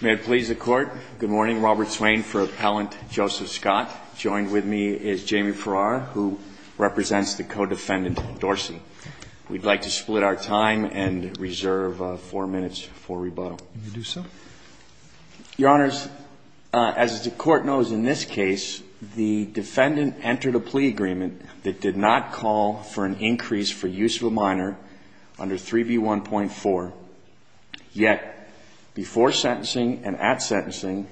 may it please the court good morning Robert Swain for appellant Joseph Scott joined with me is Jamie Farrar who represents the co-defendant Dorsey we'd like to split our time and reserve four minutes for rebuttal your honors as the court knows in this case the defendant entered a plea agreement that did not call for an increase for use of a minor under 3b 1.4 yet before sentencing and at sentencing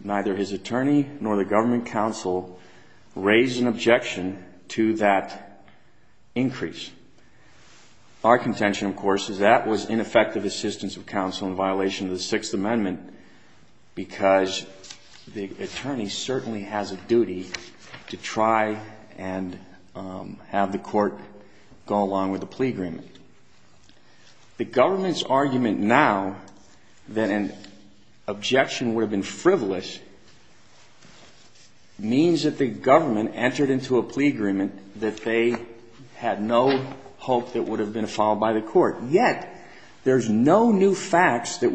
neither his attorney nor the government counsel raised an objection to that increase our contention of course is that was ineffective assistance of counsel in violation of the Sixth Amendment because the attorney certainly has a duty to try and have the court go along with the plea agreement the government's argument now that an objection would have been frivolous means that the government entered into a plea agreement that they had no hope that would have been followed by the court yet there's no new sentencing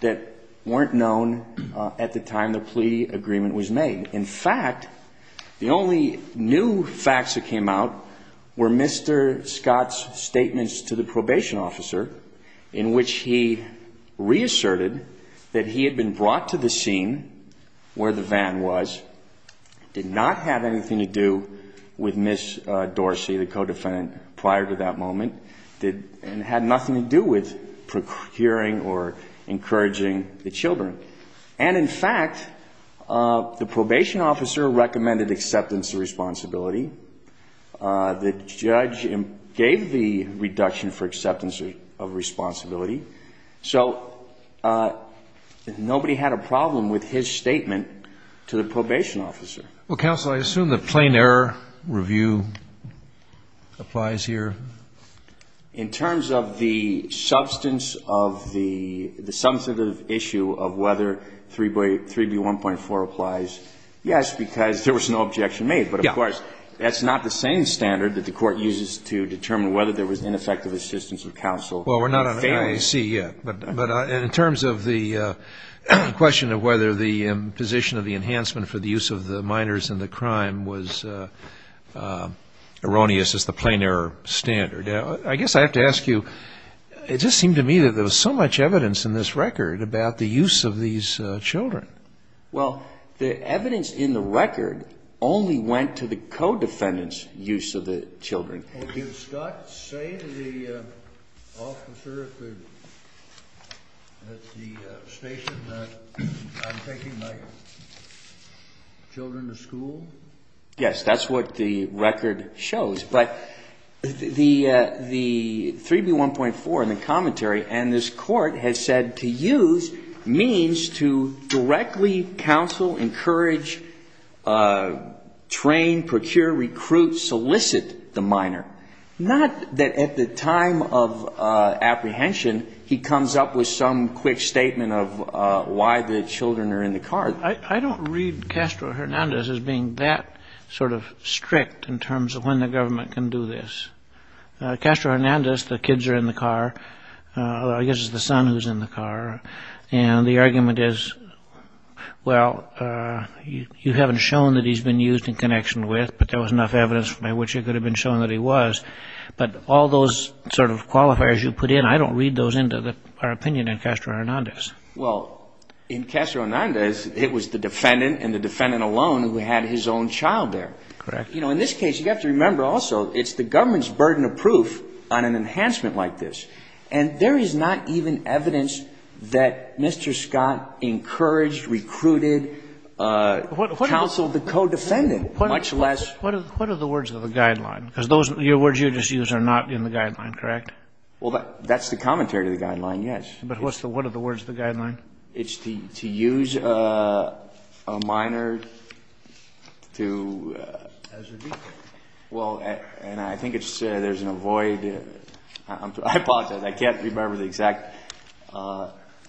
that weren't known at the time the plea agreement was made in fact the only new facts that came out were mr. Scott's statements to the probation officer in which he reasserted that he had been brought to the scene where the van was did not have anything to do with miss Dorsey the co-defendant prior to that moment did and had nothing to do with procuring or encouraging the children and in fact the probation officer recommended acceptance of responsibility the judge gave the reduction for acceptance of responsibility so nobody had a problem with his statement to the probation officer well counsel I assume the plain error review applies here in terms of the substance of the substantive issue of whether 3b 3b 1.4 applies yes because there was no objection made but of course that's not the same standard that the court uses to determine whether there was ineffective assistance of counsel well we're not on a IAC yet but but in terms of the question of whether the position of the enhancement for the use of the minors in the crime was erroneous as the plain error standard I guess I have to ask you it just seemed to me that there was so much evidence in this record about the use of these children well the evidence in the record only went to the co-defendants use of the children yes that's what the record shows but the the 3b 1.4 in the commentary and this court has said to use means to directly counsel encourage train procure recruit solicit the minor not that at the time of apprehension he comes up with some quick statement of why the children are in the car I don't read Castro Hernandez as being that sort of strict in terms of when the government can do this Castro Hernandez the kids are in the car I guess the son who's in the car and the argument is well you haven't shown that he's been used in connection with but there was enough evidence by which it could have been shown that he was but all those sort of qualifiers you put in I don't read those into the our opinion in Castro Hernandez well in Castro Hernandez it was the defendant and the defendant alone who had his own child there correct you know in this case you have to remember also it's the government's burden of proof on an enhancement like this and there is not even evidence that Mr. Scott encouraged recruited counseled the co-defendant much less what are the words of the guideline because those your words you just use are not in the guideline correct well that's the commentary to the guideline yes but what's the what are the words the guideline it's the to use a minor to well and I think it's there's an avoid I don't know I don't know if it's I apologize I can't remember the exact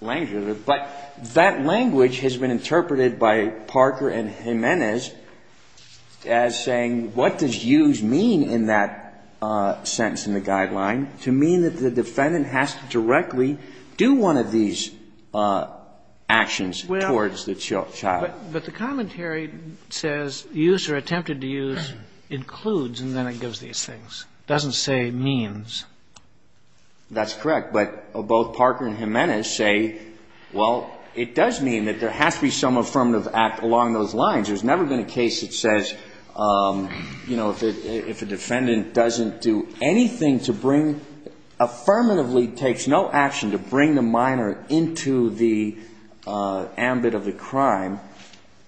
language but that language has been interpreted by Parker and Jimenez as saying what does use mean in that sentence in the guideline to mean that the defendant has to directly do one of these actions towards the child but the commentary says use or attempted to use includes and then it gives these things doesn't say means that's correct but both Parker and Jimenez say well it does mean that there has to be some affirmative act along those lines there's never been a case that says you know if a defendant doesn't do anything to bring affirmatively takes no action to bring the minor into the ambit of the crime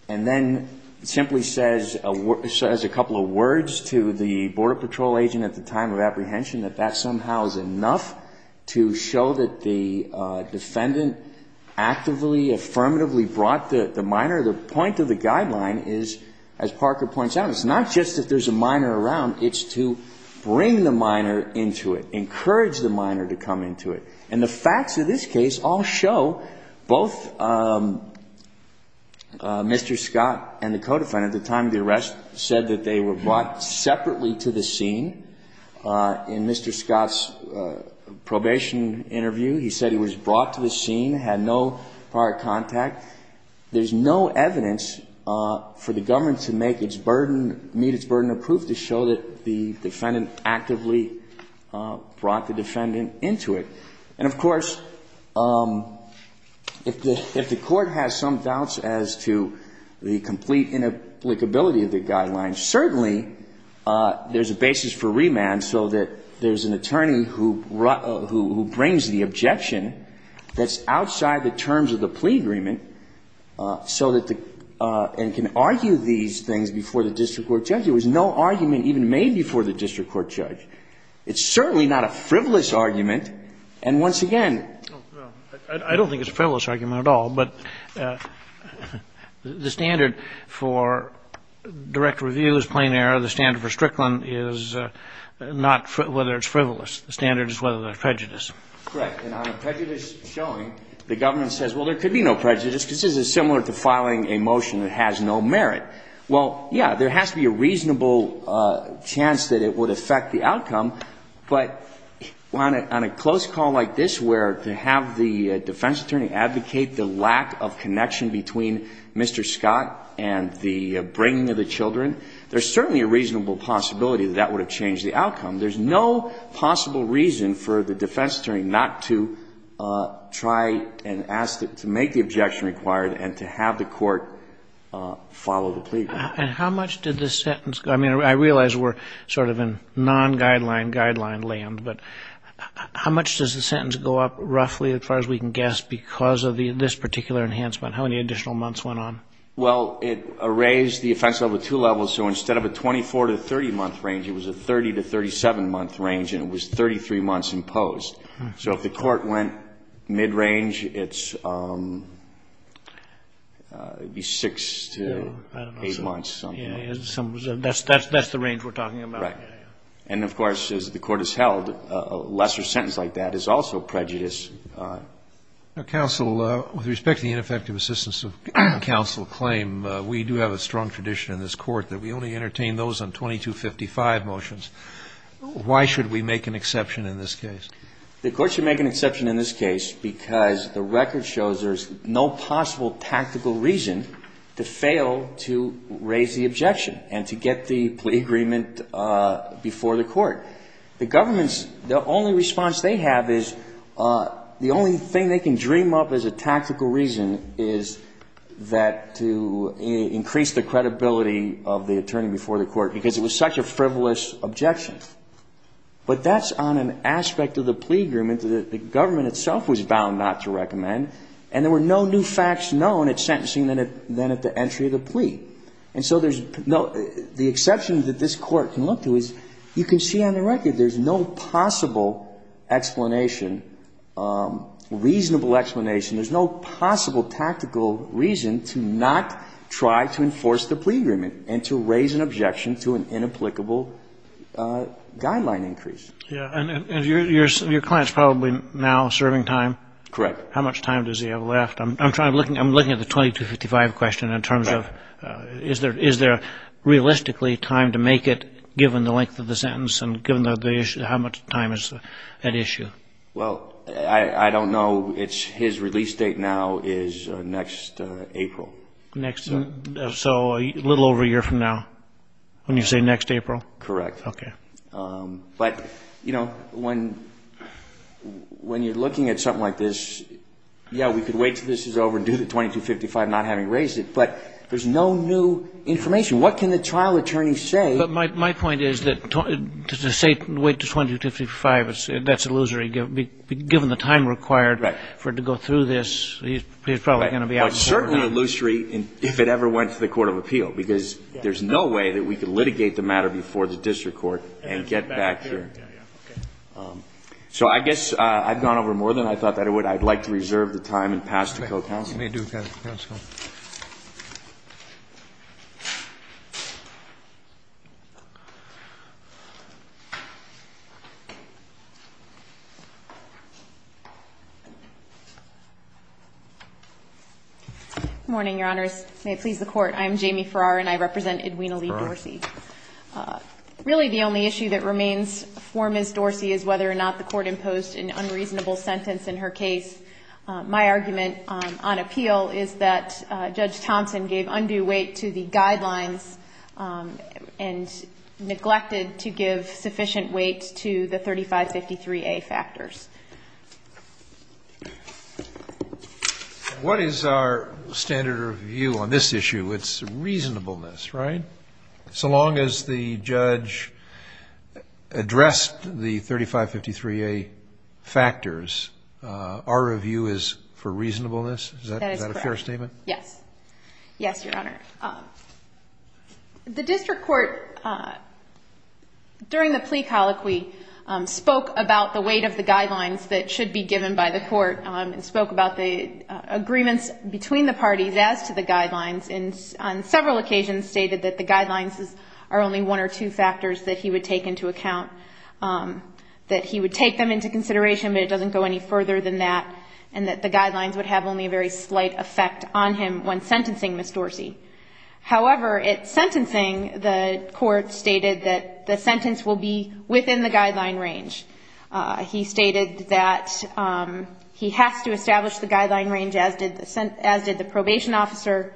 and then simply says a couple of words to the border patrol agent at the time of apprehension that that somehow is enough to show that the defendant actively affirmatively brought the minor the point of the guideline is as Parker points out it's not just that there's a minor around it's to bring the minor into it encourage the minor to come into it and the facts of this case all show both Mr. Scott and the scene in Mr. Scott's probation interview he said he was brought to the scene had no prior contact there's no evidence for the government to make its burden meet its burden of proof to show that the defendant actively brought the defendant into it and of course if the court has some doubts as to the complete inapplicability of the guidelines certainly there's a basis for remand so that there's an attorney who brought who brings the objection that's outside the terms of the plea agreement so that the and can argue these things before the district court judge there was no argument even made before the district court judge it's certainly not a frivolous argument and once again I don't think it's a frivolous argument at all but the standard for direct review is plain error the standard for Strickland is not whether it's frivolous the standard is whether there's prejudice correct and on a prejudice showing the government says well there could be no prejudice this is similar to filing a motion that has no merit well yeah there has to be a reasonable chance that it would affect the outcome but on a close call like this where to have the defense attorney advocate the lack of connection between Mr. Scott and the bringing of the children there's certainly a reasonable possibility that would have changed the outcome there's no possible reason for the defense attorney not to try and ask to make the objection required and to have the court follow the plea and how much did this sentence I mean I realize we're sort of in non-guideline guideline land but how much does the sentence go up roughly as far as we can guess because of the this particular enhancement how many additional months went on well it raised the offense over two levels so instead of a 24 to 30 month range it was a 30 to 37 month range and it was 33 months imposed so if the court went mid-range it's it'd be six to eight months that's that's that's the range we're talking about and of course as the court is held a lesser sentence like that is also prejudice counsel with respect to the ineffective assistance of counsel claim we do have a strong tradition in this court that we only entertain those on 2255 motions why should we make an exception in this case the court should make an exception in this case because the record shows there's no possible tactical reason to fail to raise the objection and to get the plea agreement before the court the government's the only response they have is the only thing they can dream up as a tactical reason is that to increase the credibility of the attorney before the court because it was such a frivolous objection but that's on an aspect of the plea agreement that the government itself was bound not to recommend and there were no new facts known at sentencing than at the entry of the plea and so there's no the exception that this court can look to is you can see on the record there's no possible explanation reasonable explanation there's no possible tactical reason to not try to enforce the plea agreement and to raise an objection to an inapplicable guideline increase yeah and your client's probably now serving time correct how much time does he have left i'm trying i'm looking i'm looking at the 2255 question in terms of is there is there realistically time to make it given the length of the sentence and given the issue how much time is at issue well i i don't know it's his release date now is next april next so a little over a year from now when you say next april correct okay um but you know when when you're 2255 not having raised it but there's no new information what can the trial attorney say but my point is that to say wait to 2255 that's illusory given the time required for it to go through this he's probably going to be out certainly illusory and if it ever went to the court of appeal because there's no way that we could litigate the matter before the district court and get back here so i guess i've gone over more than i thought that it would i'd like to go morning your honors may it please the court i am jamie farrar and i represent edwina lee dorsey really the only issue that remains for miss dorsey is whether or not the court imposed an unreasonable sentence in her case my argument on appeal is that judge thompson gave undue weight to the guidelines and neglected to give sufficient weight to the 3553a factors what is our standard of view on this issue it's reasonableness right so long as the judge addressed the 3553a factors our review is for reasonableness is that a fair statement yes yes your honor the district court during the plea colloquy spoke about the weight of the guidelines that should be given by the court and spoke about the agreements between the parties as to the guidelines and on several occasions stated that the guidelines are only one or two factors that he would take into account um that he would take them into consideration but it doesn't go any further than that and that the guidelines would have only a very slight effect on him when sentencing miss dorsey however at sentencing the court stated that the sentence will be within the guideline range uh he stated that um he has to establish the guideline range as did the probation officer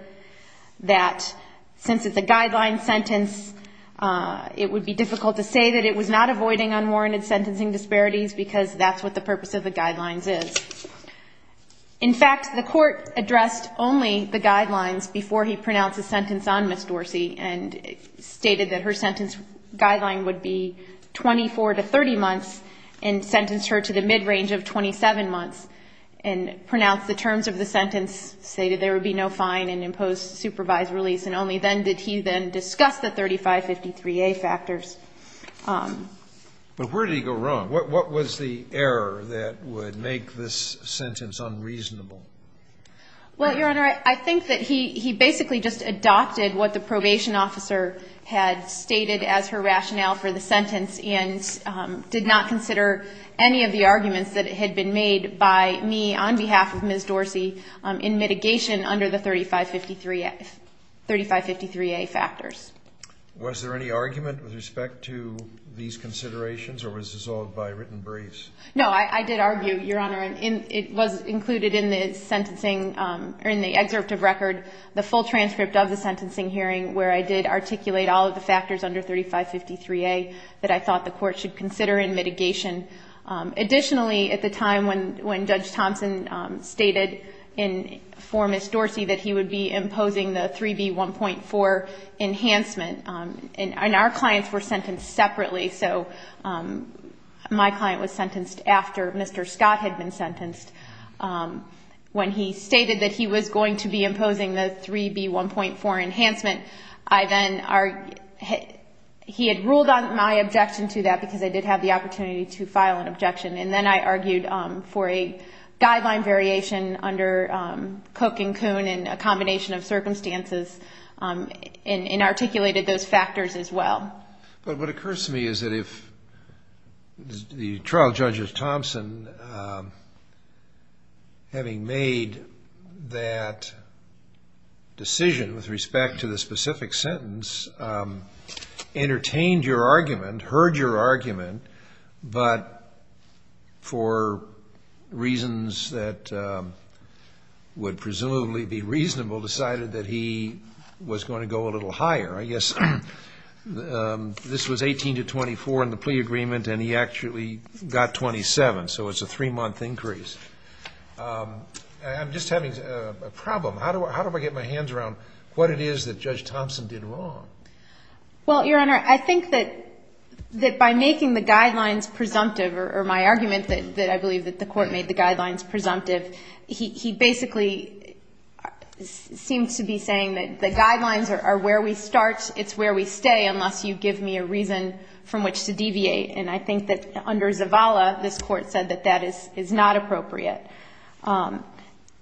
that since it's a guideline sentence uh it would be difficult to say that it was not avoiding unwarranted sentencing disparities because that's what the purpose of the guidelines is in fact the court addressed only the guidelines before he pronounced a sentence on miss dorsey and stated that her sentence guideline would be 24 to 30 months and sentenced her to the mid-range of 27 months and pronounced the terms of the sentence stated there would be no fine and imposed supervised release and only then did he then discuss the 35 53a factors but where did he go wrong what was the error that would make this sentence unreasonable well your honor i think that he he basically just adopted what the probation officer had stated as her rationale for the sentence and did not consider any of the arguments that it had been made by me on behalf of miss dorsey in mitigation under the 35 53 35 53a factors was there any argument with respect to these considerations or was dissolved by written briefs no i i did argue your honor and it was included in the sentencing um in the excerpt of record the full transcript of the sentencing hearing where i did articulate all of the factors under 35 53a that i thought the court should consider in mitigation additionally at the time when when judge thompson stated in for miss dorsey that he would be imposing the 3b 1.4 enhancement and our clients were sentenced separately so my client was sentenced after mr scott had been 3b 1.4 enhancement i then are he had ruled on my objection to that because i did have the opportunity to file an objection and then i argued um for a guideline variation under um cook and coon and a combination of circumstances um and articulated those factors as well but what occurs to me is that if the trial judge is thompson um having made that decision with respect to the specific sentence entertained your argument heard your argument but for reasons that would presumably be reasonable decided that he was going to go a little higher i guess um this was 18 to 24 in the plea agreement and he actually got 27 so it's a three-month increase um i'm just having a problem how do i how do i get my hands around what it is that judge thompson did wrong well your honor i think that that by making the guidelines presumptive or my argument that that i believe that the court made the guidelines presumptive he he basically seemed to be saying that the guidelines are where we start it's where we stay unless you give me a reason from which to deviate and i think that under zavala this court said that that is is not appropriate um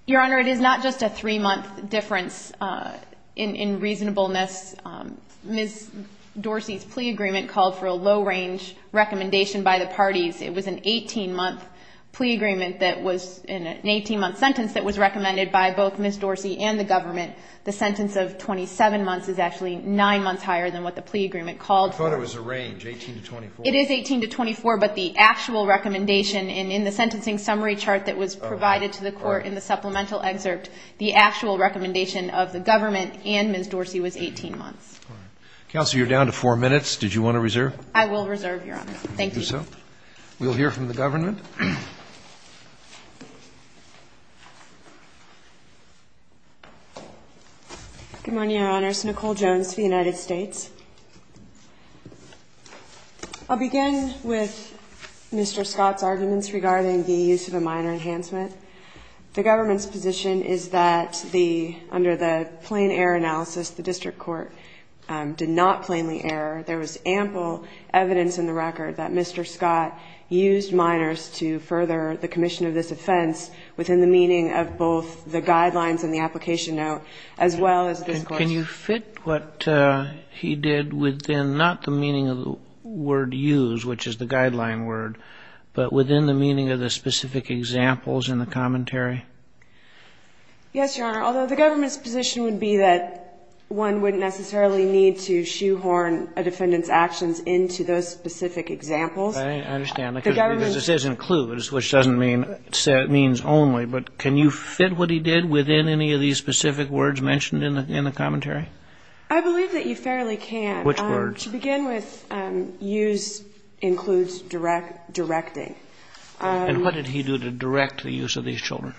your honor it is not just a three-month difference uh in in reasonableness miss dorsey's plea agreement called for a low range recommendation by the parties it was an 18-month plea agreement that was in an 18-month sentence that was recommended by both miss dorsey and the government the sentence of 27 months is actually nine months higher than what the plea agreement called i thought it was a range 18 to 24 it is 18 to 24 but the actual recommendation in in the sentencing summary chart that was provided to the court in the supplemental excerpt the actual recommendation of the government and miss dorsey was 18 months council you're down to minutes did you want to reserve i will reserve your honor thank you so we'll hear from the government good morning your honors nicole jones to the united states i'll begin with mr scott's arguments regarding the use of a minor enhancement the government's position is that the under the plain error analysis the district court did not plainly error there was ample evidence in the record that mr scott used minors to further the commission of this offense within the meaning of both the guidelines and the application note as well as can you fit what uh he did within not the meaning of the word use which is the guideline word but within the meaning of the specific examples in the commentary yes your honor although the government's position would be that one wouldn't necessarily need to shoehorn a defendant's actions into those specific examples i understand because this is includes which doesn't mean it means only but can you fit what he did within any of these specific words mentioned in the in the commentary i believe that you fairly can which words to begin with um use includes direct directing and what did he do to direct the use of these children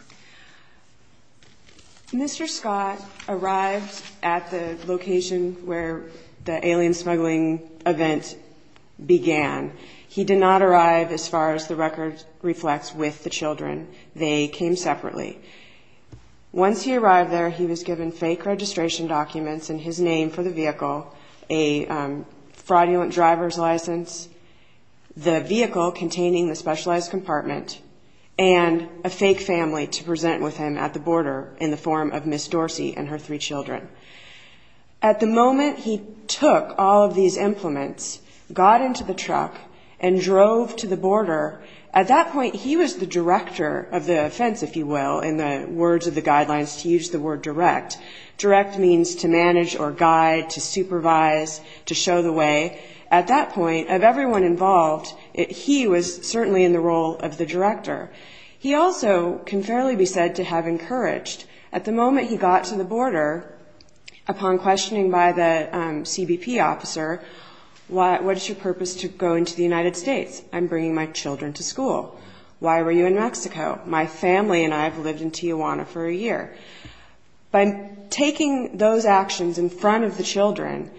mr scott arrived at the location where the alien smuggling event began he did not arrive as far as the record reflects with the children they came separately once he arrived there he was given fake registration documents in his name for the vehicle a fraudulent driver's license the vehicle containing the specialized compartment and a fake family to present with him at the border in the form of miss dorsey and her three children at the moment he took all of these implements got into the truck and drove to the border at that point he was the director of the offense if you will in the words of the guidelines to use the word direct direct means to manage or guide to supervise to show the way at that point of everyone involved he was certainly in the role of the director he also can fairly be said to have encouraged at the moment he got to the border upon questioning by the cbp officer what what is your purpose to go into the united states i'm bringing my a year by taking those actions in front of the children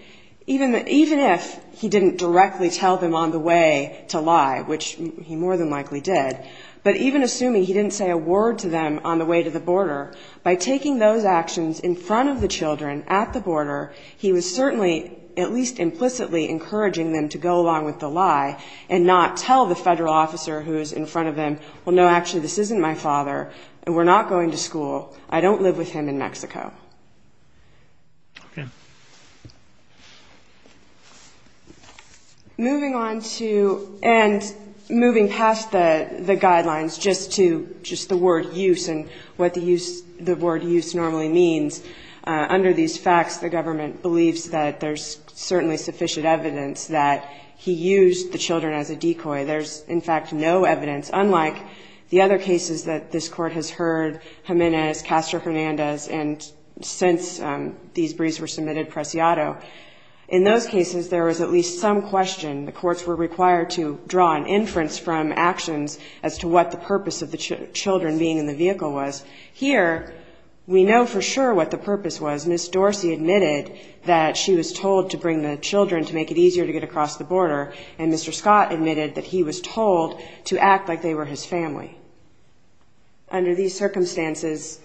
even even if he didn't directly tell them on the way to lie which he more than likely did but even assuming he didn't say a word to them on the way to the border by taking those actions in front of the children at the border he was certainly at least implicitly encouraging them to go along with the lie and not tell the federal officer who is in front of them well no actually this isn't my father and we're not going to school i don't live with him in mexico okay moving on to and moving past the the guidelines just to just the word use and what the use the word use normally means uh under these facts the government believes that there's certainly sufficient evidence that he used the children as a decoy there's in fact no evidence unlike the other cases that this court has heard jimenez castro hernandez and since these briefs were submitted presciato in those cases there was at least some question the courts were required to draw an inference from actions as to what the purpose of the children being in the vehicle was here we know for sure what the purpose was miss dorsey admitted that she was told to bring the children to make it easier to get across the border and mr scott admitted that he was told to act like they were his family under these circumstances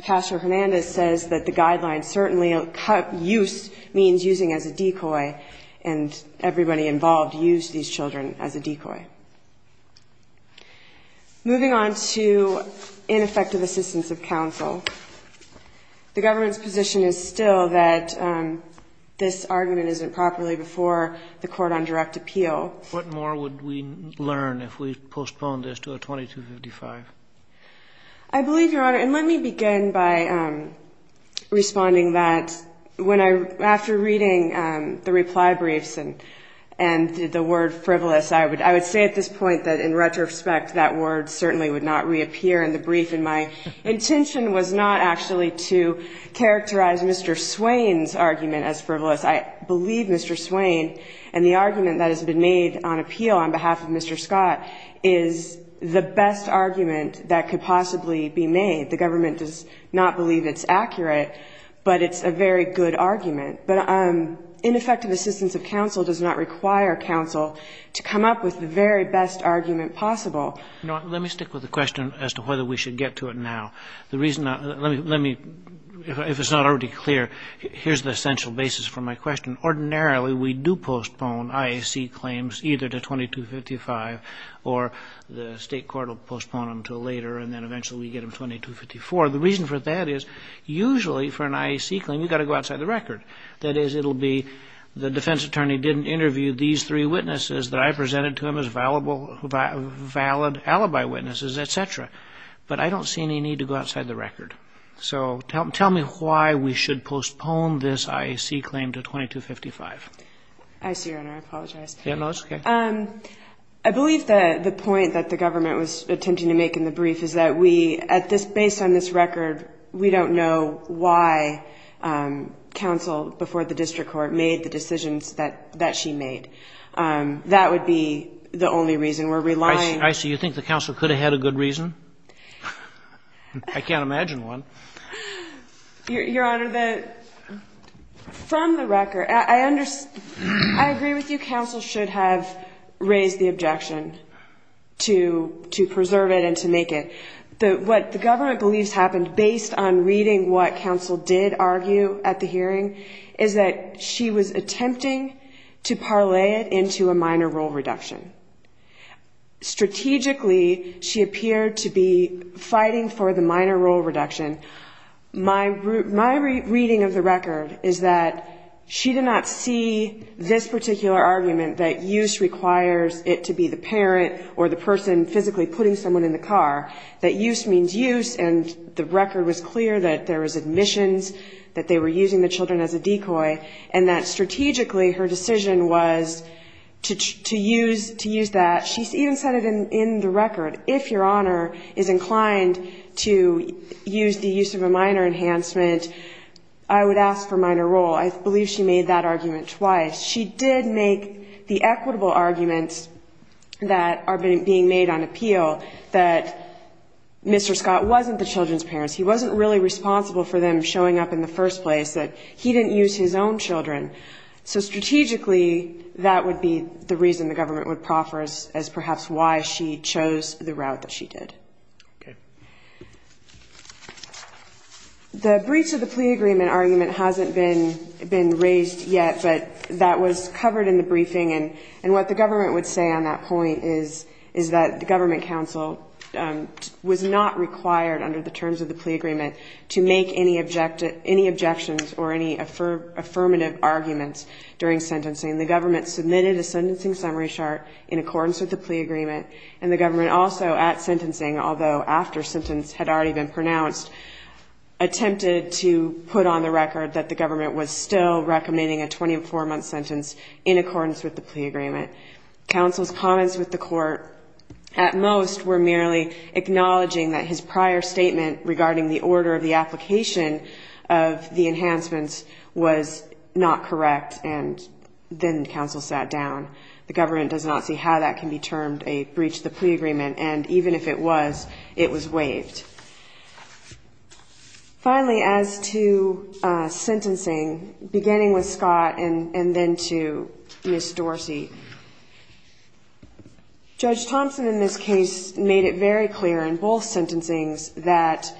pastor hernandez says that the guidelines certainly cut use means using as a decoy and everybody involved used these children as a decoy moving on to ineffective assistance of counsel the government's position is still that this argument isn't properly before the court on direct appeal what more would we learn if we postpone this to a 2255 i believe your honor and let me begin by um responding that when i after reading um the reply briefs and and the word frivolous i would i would say at this point that in retrospect that word certainly would not reappear in the brief and my intention was not actually to characterize mr swain's argument as frivolous i believe mr swain and the argument that has been made on appeal on behalf of mr scott is the best argument that could possibly be made the government does not believe it's accurate but it's a very good argument but um ineffective assistance of counsel does not require counsel to come up with the very best argument possible you know let me stick with the question as to whether we should get to it now the reason let me if it's not already clear here's the essential basis for my question ordinarily we do postpone iac claims either to 2255 or the state court will postpone them to later and then eventually we get them 2254 the reason for that is usually for an iac claim you got to go outside the record that is it'll be the defense attorney didn't interview these three witnesses that i presented to him as valuable valid alibi witnesses etc but i don't see any need to go outside the record so tell me why we should postpone this iac claim to 2255 i see your honor i apologize yeah no that's okay um i believe that the point that the government was attempting to make in the brief is that we at this based on this record we don't know why um counsel before the district court made the decisions that that she made um that would be the only reason we're relying i see you think the council could have had a good reason i can't imagine one your honor the from the record i understand i agree with you council should have raised the objection to to preserve it and to make it the what the government believes happened based on reading what council did argue at the hearing is that she was attempting to parlay it into a minor role reduction strategically she appeared to be fighting for the minor role reduction my my reading of the record is that she did not see this particular argument that use requires it to be the parent or the person physically putting someone in the car that use means use and the record was clear that there was admissions that they were using the children as a decoy and that strategically her decision was to to use to use that she's even said it in in the record if your honor is inclined to use the use of a minor enhancement i would ask for minor role i believe she made that argument twice she did make the equitable arguments that are being made on appeal that mr scott wasn't the children's parents he wasn't really responsible for them showing up in the first place that he didn't use his own children so strategically that would be the reason the government would proffer us as perhaps why she chose the route that she did okay the breach of the plea agreement argument hasn't been been raised yet but that was covered in the briefing and and what the government would say on that point is is that the government council was not required under the terms of the plea agreement to make any objective any objections or any affirmative arguments during sentencing the government submitted a sentencing summary chart in accordance with the plea agreement and the government also at sentencing although after sentence had already been pronounced attempted to put on the record that the government was still recommending a 24 month sentence in accordance with the plea agreement council's comments with the court at most were merely acknowledging that his prior statement regarding the order of the application of the enhancements was not correct and then council sat down the government does not see how that can be termed a breach the plea agreement and even if it was it was waived finally as to uh sentencing beginning with scott and and then to miss dorsey judge thompson in this case made it very clear in both sentencings that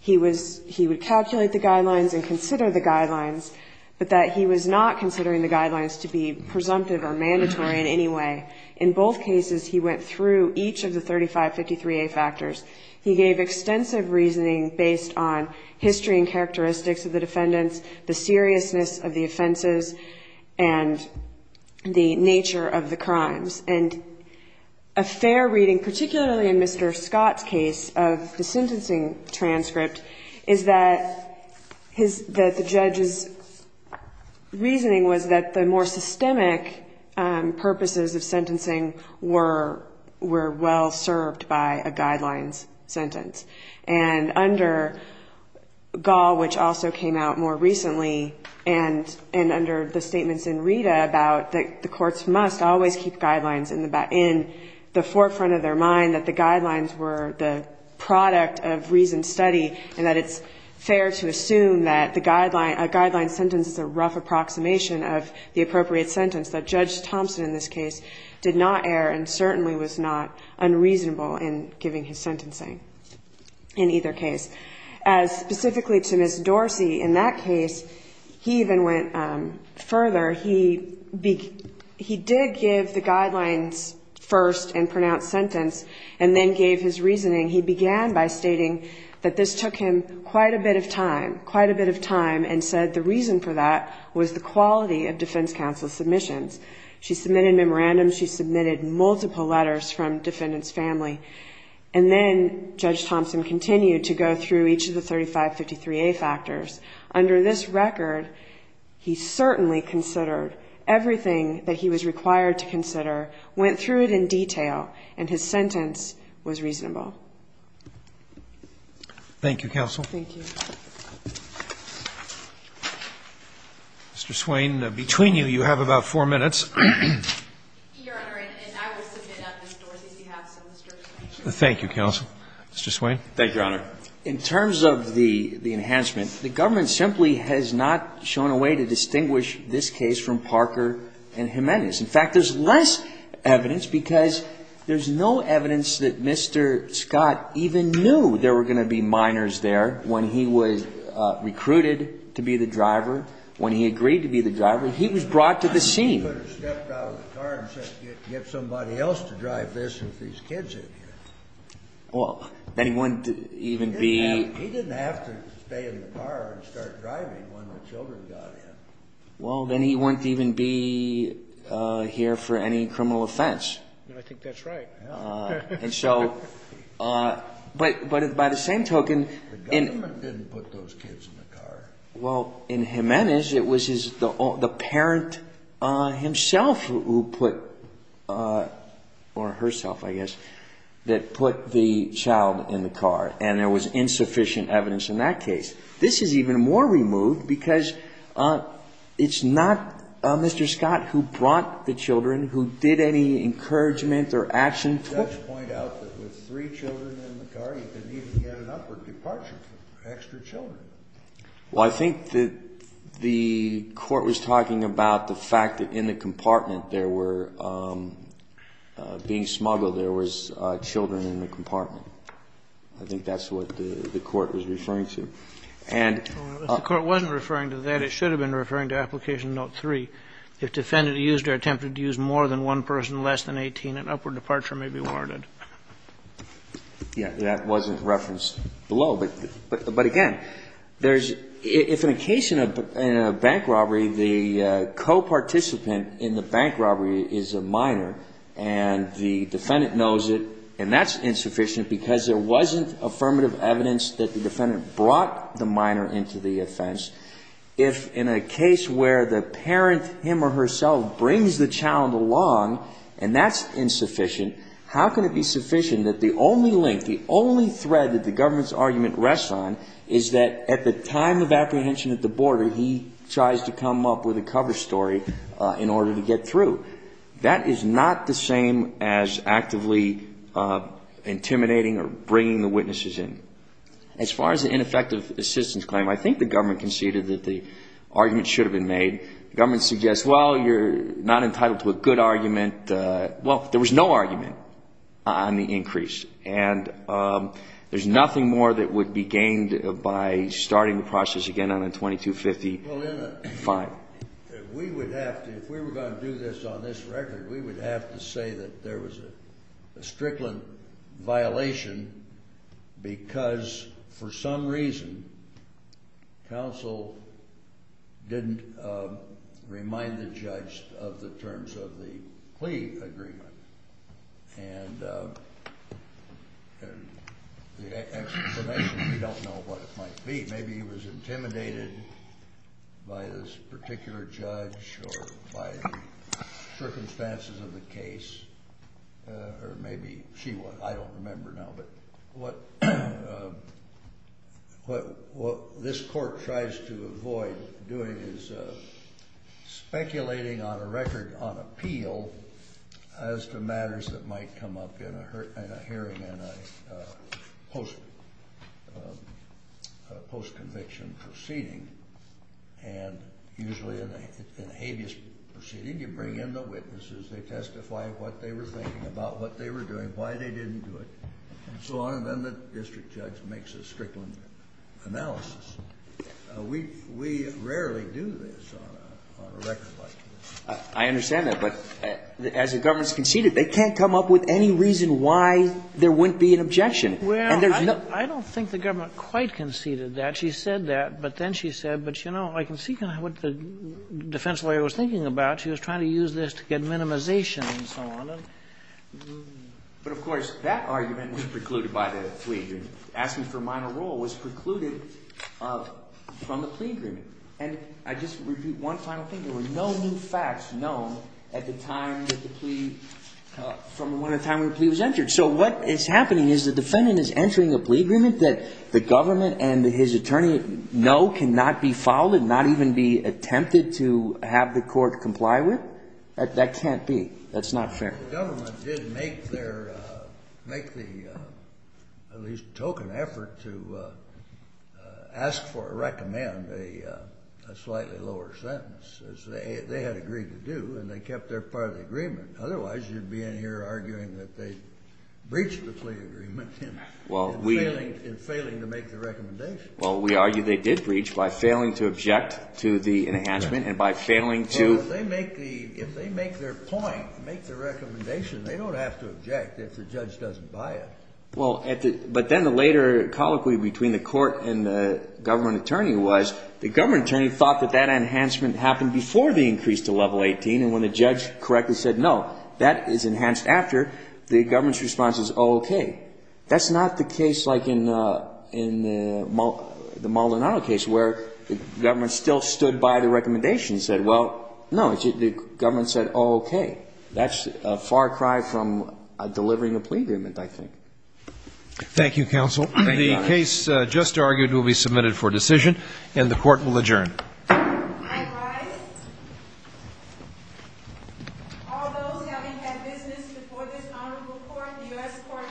he was he would calculate the guidelines and consider the guidelines but that he was not considering the guidelines to be presumptive or mandatory in any way in both cases he went through each of the 35 53a factors he gave extensive reasoning based on history and characteristics of the defendants the seriousness of the offenses and the nature of the crimes and a fair reading particularly in mr scott's case of the sentencing transcript is that his that the judge's reasoning was that the more systemic purposes of sentencing were were well served by a guidelines sentence and under gall which also came out more recently and and under the statements in rita about that the courts must always keep guidelines in the back in the forefront of their mind that the guidelines were the product of reasoned study and that it's fair to assume that the guideline a guideline sentence is a rough approximation of the appropriate sentence that judge thompson in this case did not err and certainly was not unreasonable in giving his sentencing in either case as specifically to miss dorsey in that case he even went um further he be he did give the guidelines first and pronounced sentence and then gave his reasoning he began by stating that this took him quite a bit of time quite a bit of time and said the reason for that was the quality of defense submissions she submitted memorandums she submitted multiple letters from defendants family and then judge thompson continued to go through each of the 35 53a factors under this record he certainly considered everything that he was required to consider went through it in detail and his sentence was reasonable thank you counsel thank you mr swain between you you have about four minutes thank you counsel mr swain thank your honor in terms of the the enhancement the government simply has not shown a way to distinguish this case from parker and jimenez in fact there's less evidence because there's no evidence that mr scott even knew there were going to be minors there when he was recruited to be the driver when he agreed to be the driver he was brought to the scene get somebody else to drive this if these kids in here well then he wouldn't even be he didn't have to stay in the car and start driving when the children got in well then he wouldn't even be uh here for any criminal offense i think that's right uh and so uh but but by the same token the government didn't put those kids in the car well in jimenez it was his the the parent uh himself who put uh or herself i guess that put the child in the car and there was insufficient evidence in that case this is even more removed because uh it's not uh mr scott who brought the extra children well i think that the court was talking about the fact that in the compartment there were um being smuggled there was uh children in the compartment i think that's what the court was referring to and the court wasn't referring to that it should have been referring to application note three if defendant used or attempted to use more than one person less than 18 an upward reference below but but but again there's if in a case in a bank robbery the co-participant in the bank robbery is a minor and the defendant knows it and that's insufficient because there wasn't affirmative evidence that the defendant brought the minor into the offense if in a case where the parent him or herself brings the child along and that's insufficient how can it be the government's argument rests on is that at the time of apprehension at the border he tries to come up with a cover story in order to get through that is not the same as actively intimidating or bringing the witnesses in as far as the ineffective assistance claim i think the government conceded that the argument should have been made the government suggests well you're not there's nothing more that would be gained by starting the process again on a 2250 fine we would have to if we were going to do this on this record we would have to say that there was a strickland violation because for some reason council didn't uh remind the judge of the terms of the plea agreement and the explanation we don't know what it might be maybe he was intimidated by this particular judge or by the circumstances of the case or maybe she was i don't remember now but what um what what this court tries to avoid doing is uh speculating on a record on appeal as to matters that might come up in a hurt and a hearing and a post post-conviction proceeding and usually in a habeas proceeding you bring in the witnesses they testify what they were thinking about what they were doing why they didn't do it and so on and then the district judge makes a strickland analysis we we rarely do this on a on a record like this i understand that but as the government's conceded they can't come up with any reason why there wouldn't be an objection well i don't think the government quite conceded that she said that but then she said but you know i can see kind of what the defense lawyer was thinking about she was trying to use this to get minimization and so on and but of course that argument was precluded by the plea and asking for minor role was precluded from the plea agreement and i just repeat one final thing there were no new facts known at the time that the plea uh from when the time of the plea was entered so what is happening is the defendant is entering a plea agreement that the government and his attorney know cannot be followed not even be attempted to have the court comply with that can't be that's not fair the make the uh at least token effort to uh uh ask for a recommend a uh a slightly lower sentence as they they had agreed to do and they kept their part of the agreement otherwise you'd be in here arguing that they breached the plea agreement well we in failing to make the recommendation well we argue they did breach by failing to object to the enhancement and by failing to they make the if they make their point make the recommendation they don't have to object if the judge doesn't buy it well at the but then the later colloquy between the court and the government attorney was the government attorney thought that that enhancement happened before the increase to level 18 and when the judge correctly said no that is enhanced after the government's response is okay that's not the case like in uh in the the maldonado case where the government still stood by the recommendation said well no it's the government said okay that's a far cry from a delivering a plea agreement i think thank you counsel the case just argued will be submitted for decision and the court will adjourn all those having had business before this honorable court the u.s court you